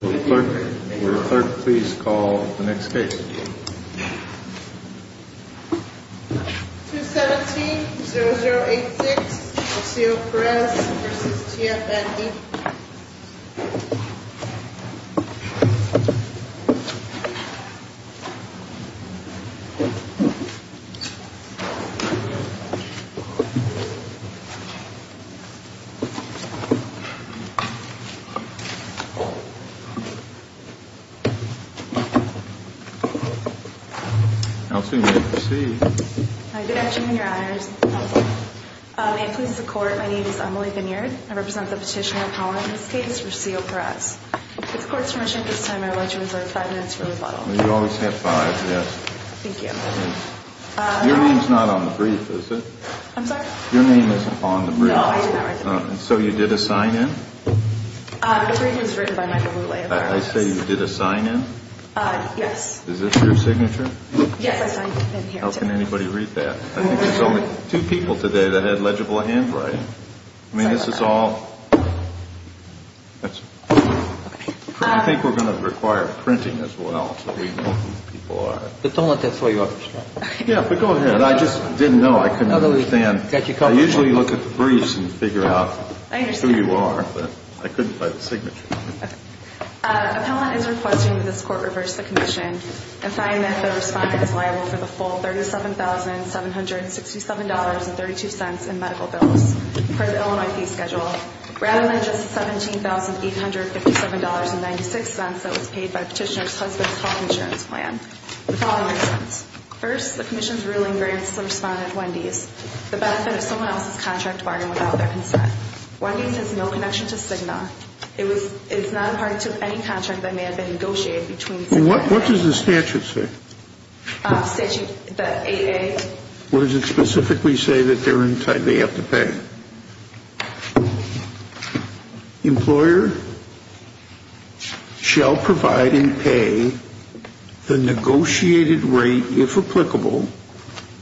Clerk, will the clerk please call the next case? 217-0086, Rocio Perez v. T.F. and E. Good afternoon, your honors. May it please the court, my name is Emily Vineard. I represent the petitioner Powell in this case, Rocio Perez. With the court's permission at this time, I would like to reserve five minutes for rebuttal. You always have five, yes. Thank you. Your name's not on the brief, is it? I'm sorry? Your name is on the brief. No, I didn't write that. So you did a sign-in? The brief is written by Michael Lulay. I say you did a sign-in? Yes. Is this your signature? Yes, I signed it in here. How can anybody read that? I think there's only two people today that had legible handwriting. I mean, this is all... I think we're going to require printing as well, so we know who the people are. But don't let that throw you off. Yeah, but go ahead. I just didn't know. I couldn't understand. I usually look at the briefs and figure out who you are. I couldn't find the signature. Appellant is requesting that this court reverse the commission and find that the respondent is liable for the full $37,767.32 in medical bills per the Illinois fee schedule rather than just $17,857.96 that was paid by petitioner's husband's health insurance plan. The following reasons. First, the commission's ruling grants the respondent Wendy's the benefit of someone else's contract bargain without their consent. Wendy's has no connection to Cigna. It's not a part of any contract that may have been negotiated between Cigna and Wendy's. What does the statute say? Statute 8A. Or does it specifically say that they have to pay? Employer shall provide and pay the negotiated rate, if applicable,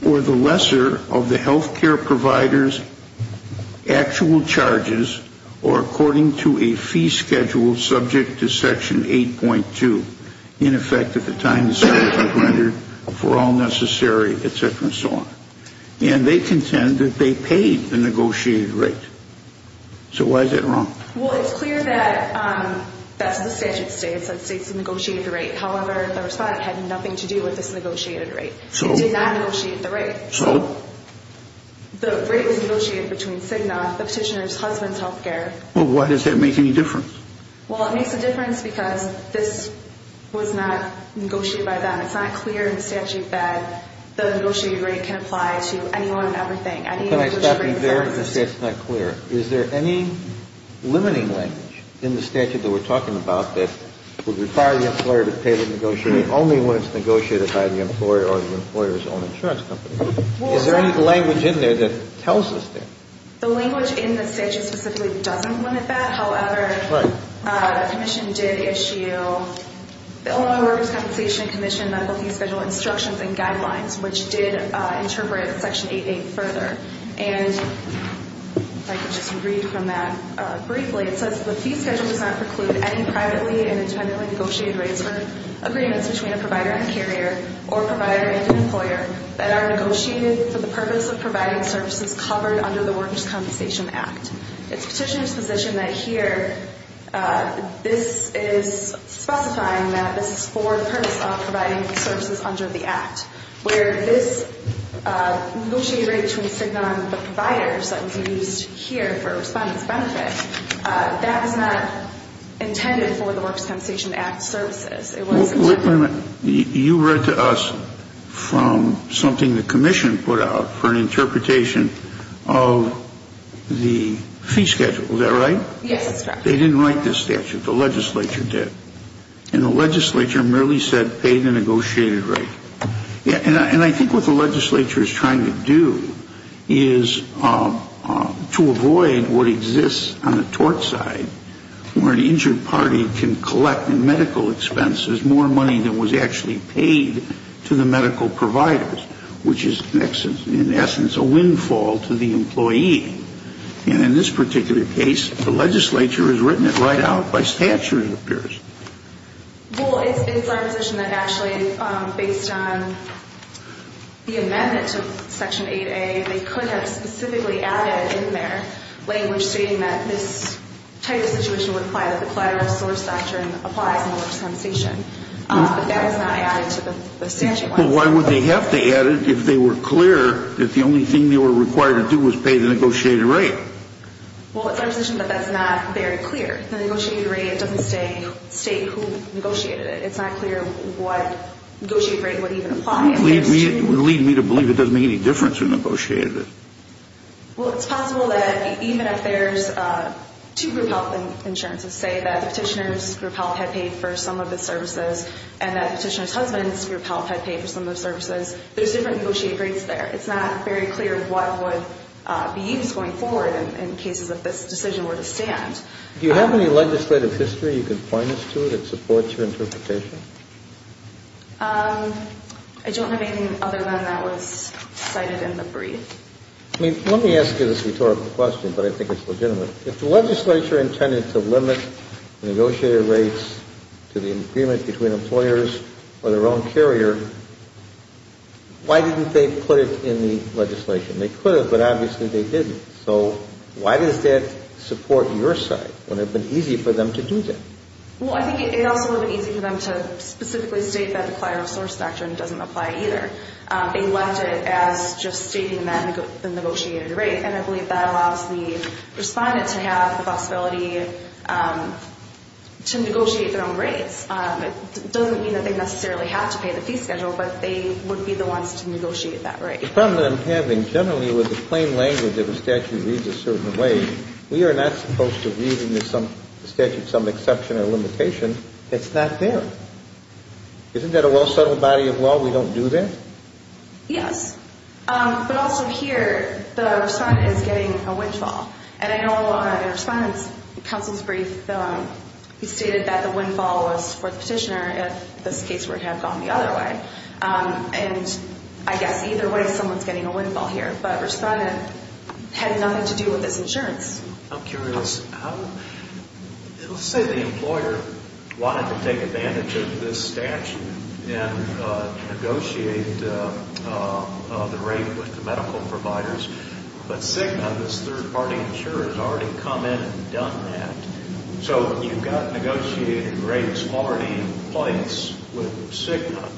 or the lesser of the health care provider's actual charges or according to a fee schedule subject to Section 8.2. In effect, at the time the statute rendered, for all necessary, et cetera, and so on. And they contend that they paid the negotiated rate. So why is that wrong? Well, it's clear that that's the statute states that states negotiated the rate. However, the respondent had nothing to do with this negotiated rate. They did not negotiate the rate. So? The rate was negotiated between Cigna, the petitioner's husband's health care. Well, why does that make any difference? Well, it makes a difference because this was not negotiated by them. It's not clear in the statute that the negotiated rate can apply to anyone and everything. Can I stop you there? It's not clear. Is there any limiting language in the statute that we're talking about that would require the employer to pay the negotiated rate only when it's negotiated by the employer or the employer's own insurance company? Is there any language in there that tells us that? The language in the statute specifically doesn't limit that. However, the commission did issue the Illinois Workers' Compensation Commission Medical Fee Schedule instructions and guidelines, which did interpret Section 8A further. And if I could just read from that briefly, it says, The fee schedule does not preclude any privately and independently negotiated rates for agreements between a provider and carrier or provider and an employer that are negotiated for the purpose of providing services covered under the Workers' Compensation Act. It's Petitioner's position that here this is specifying that this is for the purpose of providing services under the Act, where this negotiated rate between SIGNAW and the providers that would be used here for a respondent's benefit, that was not intended for the Workers' Compensation Act services. You read to us from something the commission put out for an interpretation of the fee schedule. Is that right? Yes, that's correct. They didn't write this statute. The legislature did. And the legislature merely said pay the negotiated rate. And I think what the legislature is trying to do is to avoid what exists on the tort side, where an injured party can collect in medical expenses more money than was actually paid to the medical providers, which is in essence a windfall to the employee. And in this particular case, the legislature has written it right out by statute, it appears. Well, it's our position that actually based on the amendment to Section 8A, they could have specifically added in there language stating that this type of situation would apply, that the collateral source doctrine applies in the workers' compensation. But that is not added to the statute. Well, why would they have to add it if they were clear that the only thing they were required to do was pay the negotiated rate? Well, it's our position that that's not very clear. The negotiated rate doesn't state who negotiated it. It's not clear what negotiated rate would even apply. It would lead me to believe it doesn't make any difference who negotiated it. Well, it's possible that even if there's two group health insurances, say that the petitioner's group health had paid for some of the services and that the petitioner's husband's group health had paid for some of the services, there's different negotiated rates there. It's not very clear what would be used going forward in cases if this decision were to stand. Do you have any legislative history you can point us to that supports your interpretation? I don't have anything other than that was cited in the brief. I mean, let me ask you this rhetorical question, but I think it's legitimate. If the legislature intended to limit negotiated rates to the agreement between employers or their own carrier, why didn't they put it in the legislation? They could have, but obviously they didn't. So why does that support your side? Would it have been easy for them to do that? Well, I think it also would have been easy for them to specifically state that the client resource doctrine doesn't apply either. They left it as just stating the negotiated rate, and I believe that allows the respondent to have the possibility to negotiate their own rates. It doesn't mean that they necessarily have to pay the fee schedule, but they would be the ones to negotiate that rate. The problem that I'm having generally with the plain language that the statute reads a certain way, we are not supposed to read in the statute some exception or limitation that's not there. Isn't that a well-settled body of law we don't do that? Yes, but also here the respondent is getting a windfall, and I know in the respondent's counsel's brief he stated that the windfall was for the petitioner if this case were to have gone the other way. And I guess either way someone's getting a windfall here, but respondent had nothing to do with this insurance. I'm curious. Let's say the employer wanted to take advantage of this statute and negotiate the rate with the medical providers, but Cigna, this third-party insurer, has already come in and done that. So you've got negotiated rates already in place with Cigna,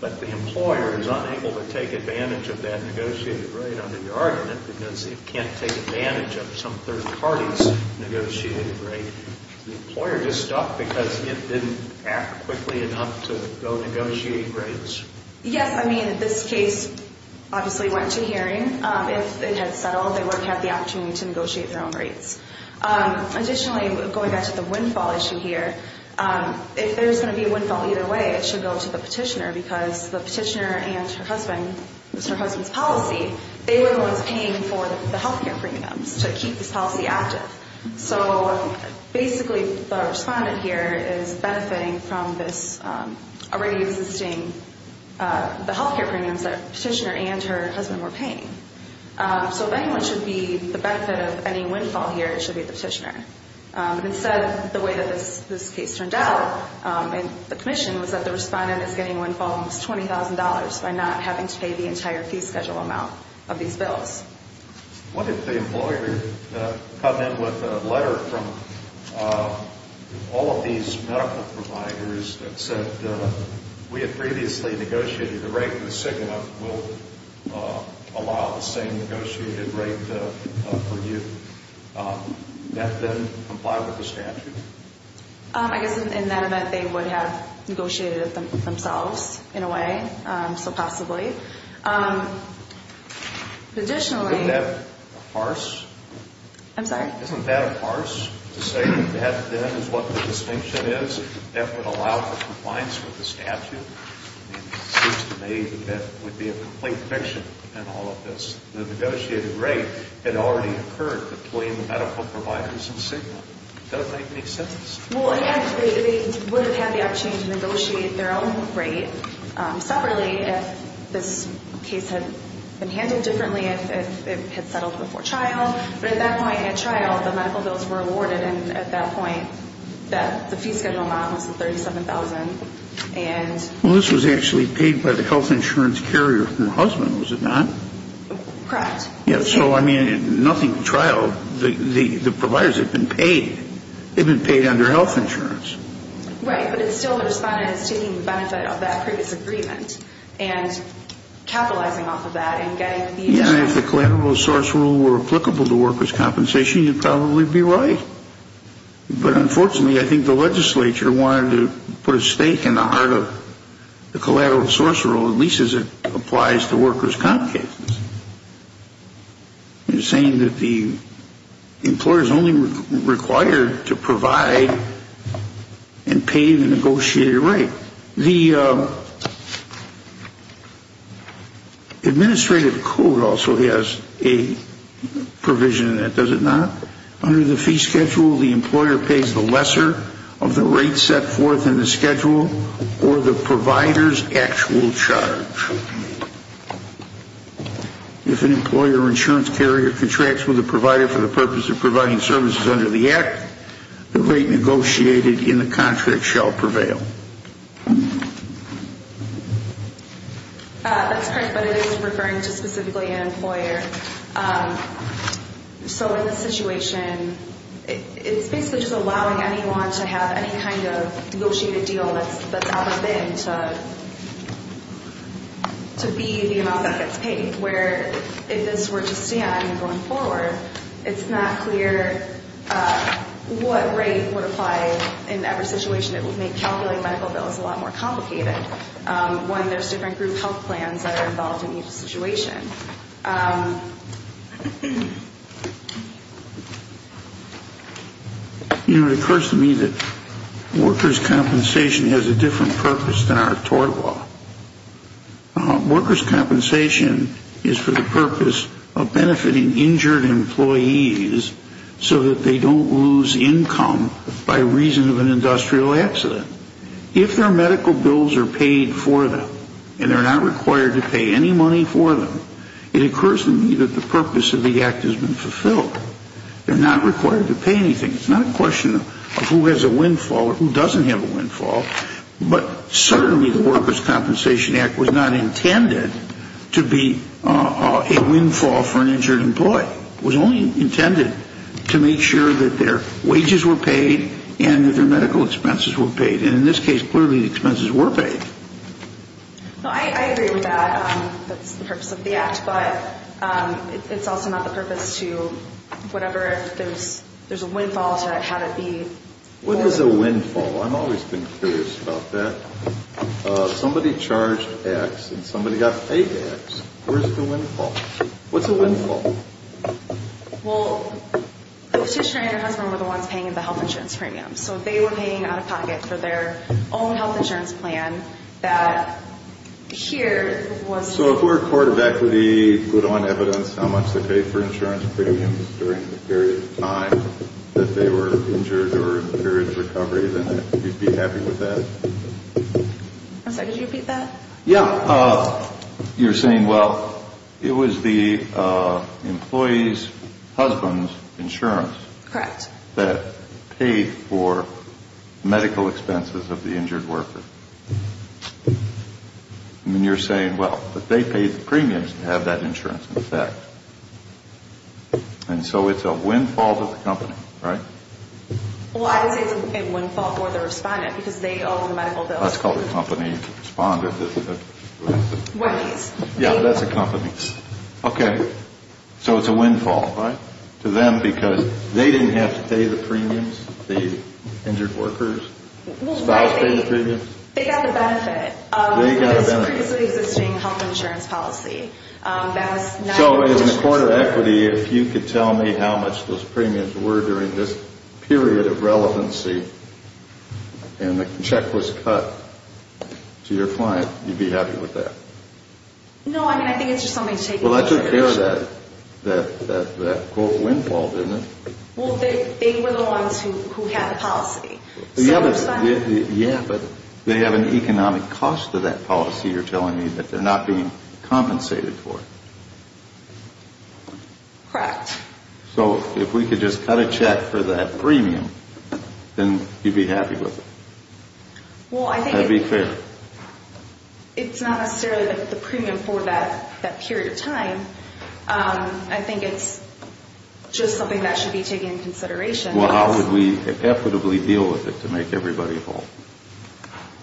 but the employer is unable to take advantage of that negotiated rate under your argument because it can't take advantage of some third-party's negotiated rate. The employer just stopped because it didn't act quickly enough to go negotiate rates. Yes, I mean, this case obviously went to hearing. If it had settled, they would have had the opportunity to negotiate their own rates. Additionally, going back to the windfall issue here, if there's going to be a windfall either way, it should go to the petitioner because the petitioner and her husband, her husband's policy, they were the ones paying for the health care premiums to keep this policy active. So basically the respondent here is benefiting from this already existing, the health care premiums that the petitioner and her husband were paying. So if anyone should be the benefit of any windfall here, it should be the petitioner. Instead, the way that this case turned out in the commission was that the respondent is getting windfall almost $20,000 by not having to pay the entire fee schedule amount of these bills. What if the employer had come in with a letter from all of these medical providers that said we had previously negotiated the rate, the SIGMA will allow the same negotiated rate for you. Would that then comply with the statute? I guess in that event, they would have negotiated it themselves in a way, so possibly. But additionally — Isn't that harsh? I'm sorry? Isn't that harsh to say that that then is what the distinction is? That would allow for compliance with the statute? It seems to me that would be a complete fiction in all of this. The negotiated rate had already occurred between the medical providers and SIGMA. It doesn't make any sense. Well, again, they would have had the opportunity to negotiate their own rate separately if this case had been handled differently, if it had settled before trial. But at that point in trial, the medical bills were awarded, and at that point the fee schedule amount was $37,000. Well, this was actually paid by the health insurance carrier from the husband, was it not? Correct. So, I mean, nothing at trial, the providers had been paid. They had been paid under health insurance. Right, but it's still the respondent that's taking the benefit of that previous agreement and capitalizing off of that and getting the insurance. Again, if the collateral source rule were applicable to workers' compensation, you'd probably be right. But unfortunately, I think the legislature wanted to put a stake in the heart of the collateral source rule, at least as it applies to workers' comp cases. It's saying that the employer is only required to provide and pay the negotiated rate. The administrative code also has a provision in it, does it not? Under the fee schedule, the employer pays the lesser of the rate set forth in the schedule or the provider's actual charge. If an employer or insurance carrier contracts with a provider for the purpose of providing services under the act, the rate negotiated in the contract shall prevail. That's correct, but it is referring to specifically an employer. So in this situation, it's basically just allowing anyone to have any kind of negotiated deal that's out of it to be the amount that gets paid, where if this were to stand going forward, it's not clear what rate would apply in every situation. It would make calculating medical bills a lot more complicated when there's different group health plans that are involved in each situation. You know, it occurs to me that workers' compensation has a different purpose than our tort law. Workers' compensation is for the purpose of benefiting injured employees so that they don't lose income by reason of an industrial accident. If their medical bills are paid for them and they're not required to pay any money for them, it occurs to me that the purpose of the act has been fulfilled. They're not required to pay anything. It's not a question of who has a windfall or who doesn't have a windfall, but certainly the Workers' Compensation Act was not intended to be a windfall for an injured employee. It was only intended to make sure that their wages were paid and that their medical expenses were paid. And in this case, clearly the expenses were paid. No, I agree with that. That's the purpose of the act, but it's also not the purpose to whatever if there's a windfall to have it be. What is a windfall? I've always been curious about that. Somebody charged X and somebody got paid X. Where's the windfall? What's a windfall? Well, the petitioner and her husband were the ones paying the health insurance premium, so they were paying out-of-pocket for their own health insurance plan that here was... So if we're a court of equity, put on evidence how much they paid for insurance premiums during the period of time that they were injured or in the period of recovery, then I'd be happy with that. I'm sorry, could you repeat that? Yeah. You're saying, well, it was the employee's husband's insurance... Correct. ...that paid for medical expenses of the injured worker. And you're saying, well, that they paid the premiums to have that insurance in effect. And so it's a windfall to the company, right? Well, I would say it's a windfall for the respondent because they owe the medical bills. That's called a company to respond to. Yeah, that's a company. Okay. So it's a windfall, right, to them because they didn't have to pay the premiums? The injured worker's spouse paid the premiums? They got the benefit of this previously existing health insurance policy. So in the court of equity, if you could tell me how much those premiums were during this period of relevancy and the check was cut to your client, you'd be happy with that? No, I mean, I think it's just something to take into consideration. Well, that took care of that quote windfall, didn't it? Well, they were the ones who had the policy. Yeah, but they have an economic cost to that policy you're telling me that they're not being compensated for. Correct. So if we could just cut a check for that premium, then you'd be happy with it? Well, I think it's not necessarily the premium for that period of time. I think it's just something that should be taken into consideration. Well, how would we effortably deal with it to make everybody whole,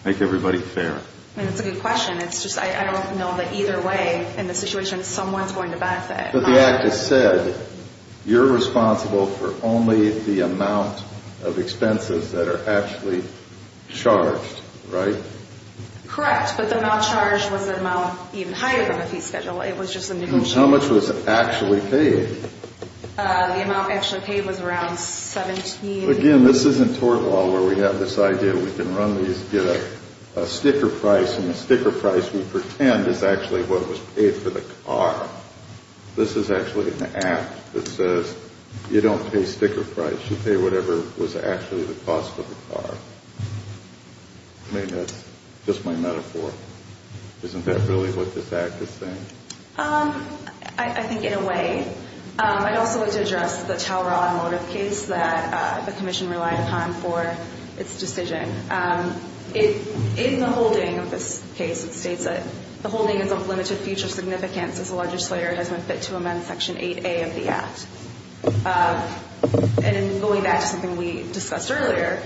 make everybody fair? That's a good question. It's just I don't know that either way in the situation someone's going to benefit. But the act has said you're responsible for only the amount of expenses that are actually charged, right? Correct, but the amount charged was the amount even higher than the fee schedule. It was just a negotiation. How much was actually paid? The amount actually paid was around 17. Again, this isn't tort law where we have this idea we can run these, get a sticker price, and the sticker price we pretend is actually what was paid for the car. This is actually an act that says you don't pay sticker price. You pay whatever was actually the cost of the car. I mean, that's just my metaphor. Isn't that really what this act is saying? I think in a way. I'd also like to address the Tower Automotive case that the commission relied upon for its decision. In the holding of this case, it states that the holding is of limited future significance as the legislator has been fit to amend Section 8A of the act. And going back to something we discussed earlier,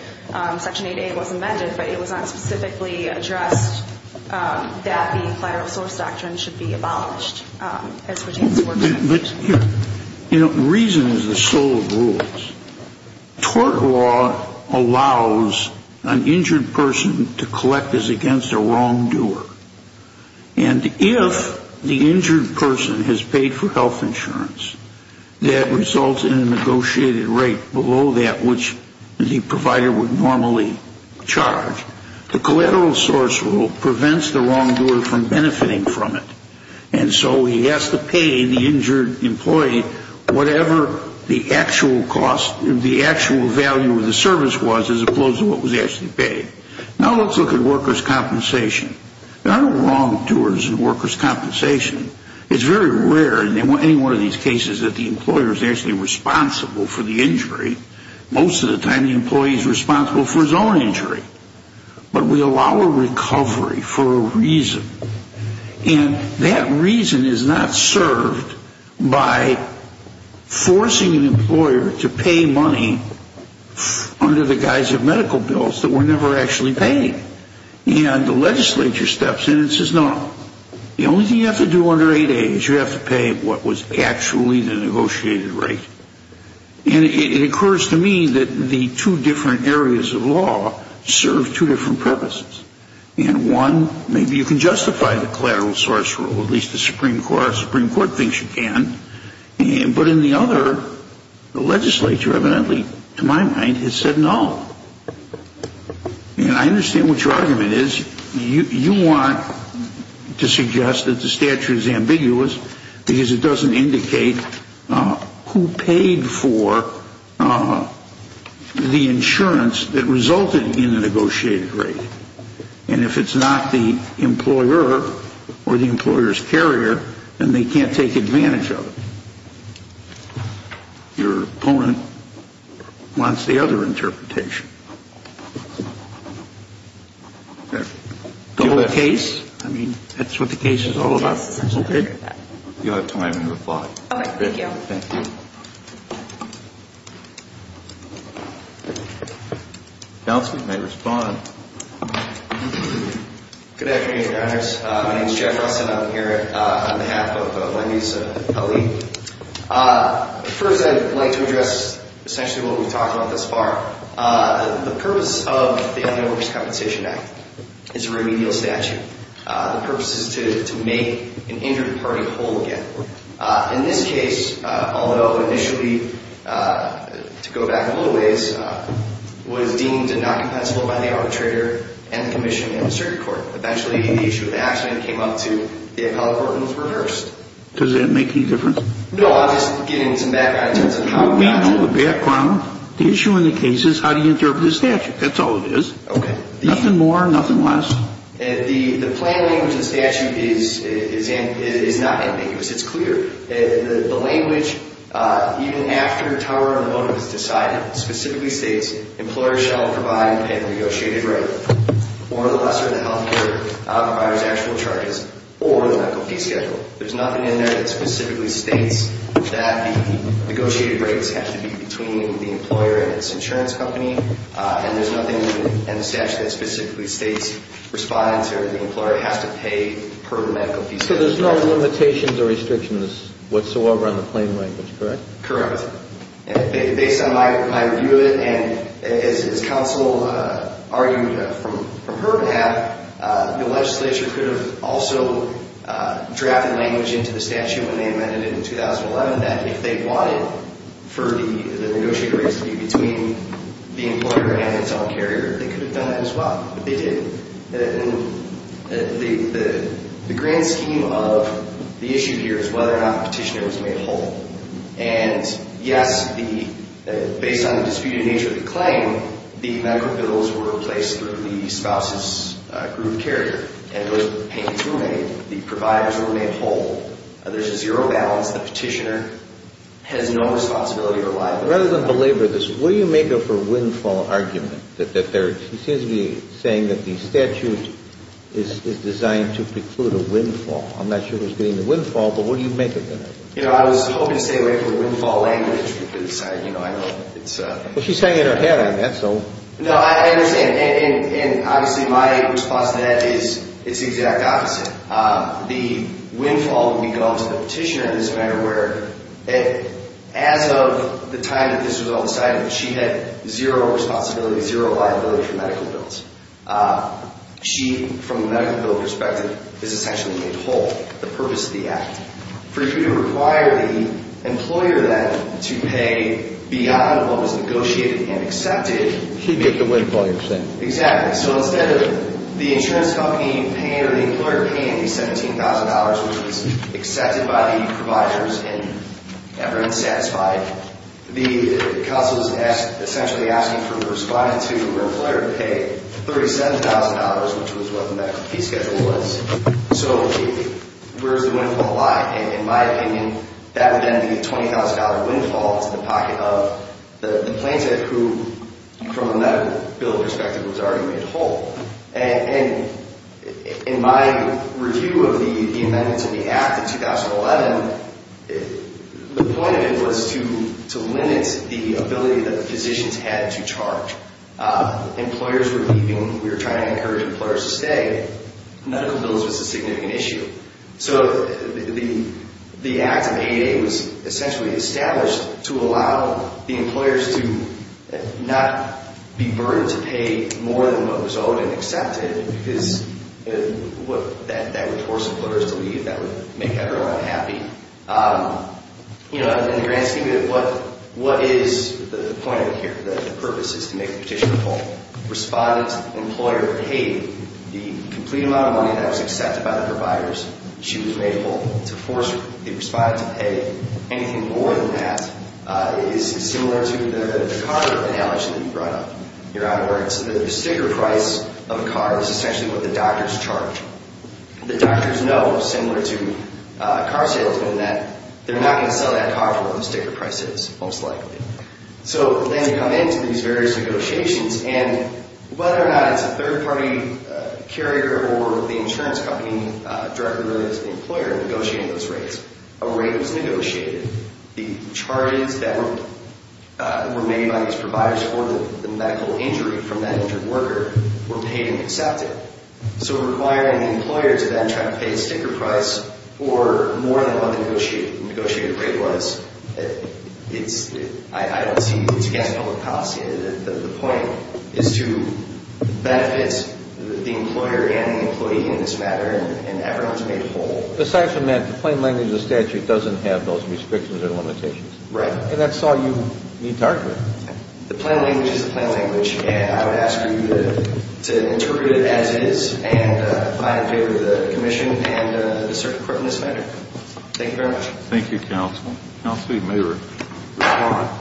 Section 8A was amended, but it was not specifically addressed that the collateral source doctrine should be abolished. But the reason is the soul of the rules. Tort law allows an injured person to collect as against a wrongdoer. And if the injured person has paid for health insurance, that results in a negotiated rate below that which the provider would normally charge. The collateral source rule prevents the wrongdoer from benefiting from it. And so he has to pay the injured employee whatever the actual cost, the actual value of the service was as opposed to what was actually paid. Now let's look at workers' compensation. There aren't wrongdoers in workers' compensation. It's very rare in any one of these cases that the employer is actually responsible for the injury. Most of the time the employee is responsible for his own injury. But we allow a recovery for a reason. And that reason is not served by forcing an employer to pay money under the guise of medical bills that were never actually paid. And the legislature steps in and says no. The only thing you have to do under 8A is you have to pay what was actually the negotiated rate. And it occurs to me that the two different areas of law serve two different purposes. And one, maybe you can justify the collateral source rule, at least the Supreme Court thinks you can. But in the other, the legislature evidently, to my mind, has said no. And I understand what your argument is. You want to suggest that the statute is ambiguous because it doesn't indicate who paid for the insurance that resulted in the negotiated rate. And if it's not the employer or the employer's carrier, then they can't take advantage of it. Your opponent wants the other interpretation. The case, I mean, that's what the case is all about. Okay. You have time to reply. Thank you. Thank you. Counsel may respond. Good afternoon, Your Honors. My name is Jeff Ross, and I'm here on behalf of Wendy's Elite. First, I'd like to address essentially what we've talked about thus far. The purpose of the Employer Workers' Compensation Act is a remedial statute. The purpose is to make an injured party whole again. In this case, although initially, to go back a little ways, was deemed not compensable by the arbitrator and the commission and the circuit court. Eventually, the issue of the accident came up to the appellate court, and it was reversed. Does that make any difference? No, I'm just getting some background in terms of how it works. We know the background. The issue in the case is how do you interpret the statute. That's all it is. Okay. Nothing more, nothing less. The plain language of the statute is not ambiguous. It's clear. The language, even after the tower on the motive is decided, specifically states, employers shall provide a negotiated rate for the lesser of the health care provider's actual charges or the medical fee schedule. There's nothing in there that specifically states that the negotiated rates have to be between the employer and its insurance company, and there's nothing in the statute that specifically states respondents or the employer has to pay per the medical fee schedule. So there's no limitations or restrictions whatsoever on the plain language, correct? Correct. Based on my review of it, and as counsel argued from her behalf, the legislature could have also drafted language into the statute when they amended it in 2011 that if they wanted for the negotiated rates to be between the employer and its own carrier, they could have done it as well. But they didn't. The grand scheme of the issue here is whether or not the petitioner was made whole. And, yes, based on the disputed nature of the claim, the medical bills were replaced through the spouse's group carrier, and those payments were made. The providers were made whole. There's a zero balance. The petitioner has no responsibility or liability. Rather than belabor this, what do you make of her windfall argument? She seems to be saying that the statute is designed to preclude a windfall. I'm not sure who's getting the windfall, but what do you make of that? You know, I was hoping to stay away from the windfall language because, you know, I know it's a... Well, she's saying it in her head, and that's all. No, I understand. And, obviously, my response to that is it's the exact opposite. The windfall when we got onto the petitioner in this matter where, as of the time that this was all decided, she had zero responsibility, zero liability for medical bills. She, from the medical bill perspective, is essentially made whole. The purpose of the act. For you to require the employer, then, to pay beyond what was negotiated and accepted... She made the windfall, you're saying. Exactly. So, instead of the insurance company paying or the employer paying the $17,000, which was accepted by the providers and everyone's satisfied, the counsel is essentially asking for responding to the employer to pay $37,000, which was what the medical fee schedule was. So, where's the windfall lie? In my opinion, that would then be a $20,000 windfall. It's in the pocket of the plaintiff who, from a medical bill perspective, was already made whole. And, in my review of the amendments in the act in 2011, the point of it was to limit the ability that physicians had to charge. Employers were leaving. We were trying to encourage employers to stay. Medical bills was a significant issue. So, the act of 8A was essentially established to allow the employers to not be burdened to pay more than what was owed and accepted, because that would force employers to leave. That would make everyone unhappy. You know, in the grand scheme of it, what is the point of it here? The purpose is to make the petition whole. Respondent, employer paid the complete amount of money that was accepted by the providers. She was made whole. To force the respondent to pay anything more than that is similar to the car analogy that you brought up. You're out of work. So, the sticker price of a car is essentially what the doctors charge. The doctors know, similar to car salesmen, that they're not going to sell that car for what the sticker price is, most likely. So, then you come into these various negotiations, and whether or not it's a third-party carrier or the insurance company directly related to the employer negotiating those rates, a rate was negotiated. The charges that were made by these providers for the medical injury from that injured worker were paid and accepted. So, requiring the employer to then try to pay a sticker price for more than what the negotiated rate was, I don't see, it's against public policy. The point is to benefit the employer and the employee in this matter, and everyone's made whole. Aside from that, the plain language of the statute doesn't have those restrictions or limitations. Right. And that's all you need to argue. The plain language is the plain language, and I would ask you to interpret it as it is, and I in favor of the commission and the circuit court in this matter. Thank you very much. Thank you, counsel. Counsel, you may respond.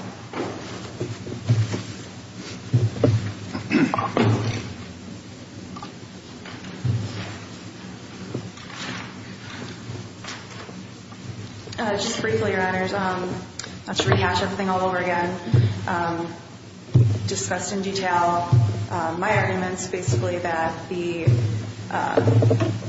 Just briefly, Your Honors, not to rehash everything all over again, discussed in detail my arguments, basically, that the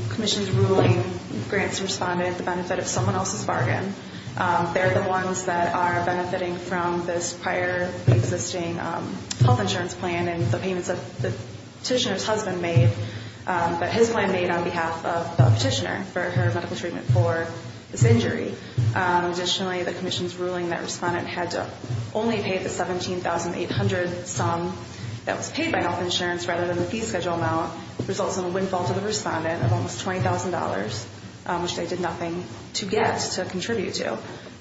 commission's ruling grants the respondent the benefit of someone else's bargain. They're the ones that are benefiting from this prior existing health insurance plan and the payments that the petitioner's husband made, but his plan made on behalf of the petitioner for her medical treatment for this injury. Additionally, the commission's ruling that respondent had to only pay the $17,800 sum that was paid by health insurance rather than the fee schedule amount results in a windfall to the respondent of almost $20,000, which they did nothing to get, to contribute to.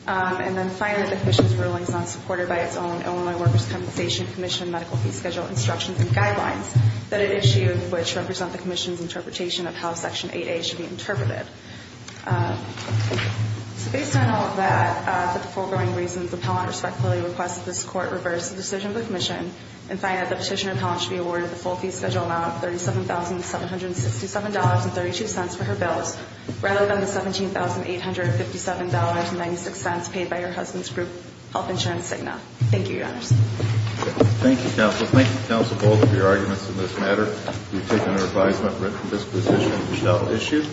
And then finally, the commission's ruling is not supported by its own Illinois Workers' Compensation Commission medical fee schedule instructions and guidelines that it issued, which represent the commission's interpretation of how Section 8A should be interpreted. So based on all of that, for the foregoing reasons, appellant respectfully requests that this Court reverse the decision of the commission and find that the petitioner appellant should be awarded the full fee schedule amount of $37,767.32 for her bills rather than the $17,857.96 paid by her husband's group, Health Insurance Cigna. Thank you, Your Honors. Thank you, Counsel. Thank you, Counsel, for all of your arguments in this matter. We've taken our advisement written from this petition and shall issue.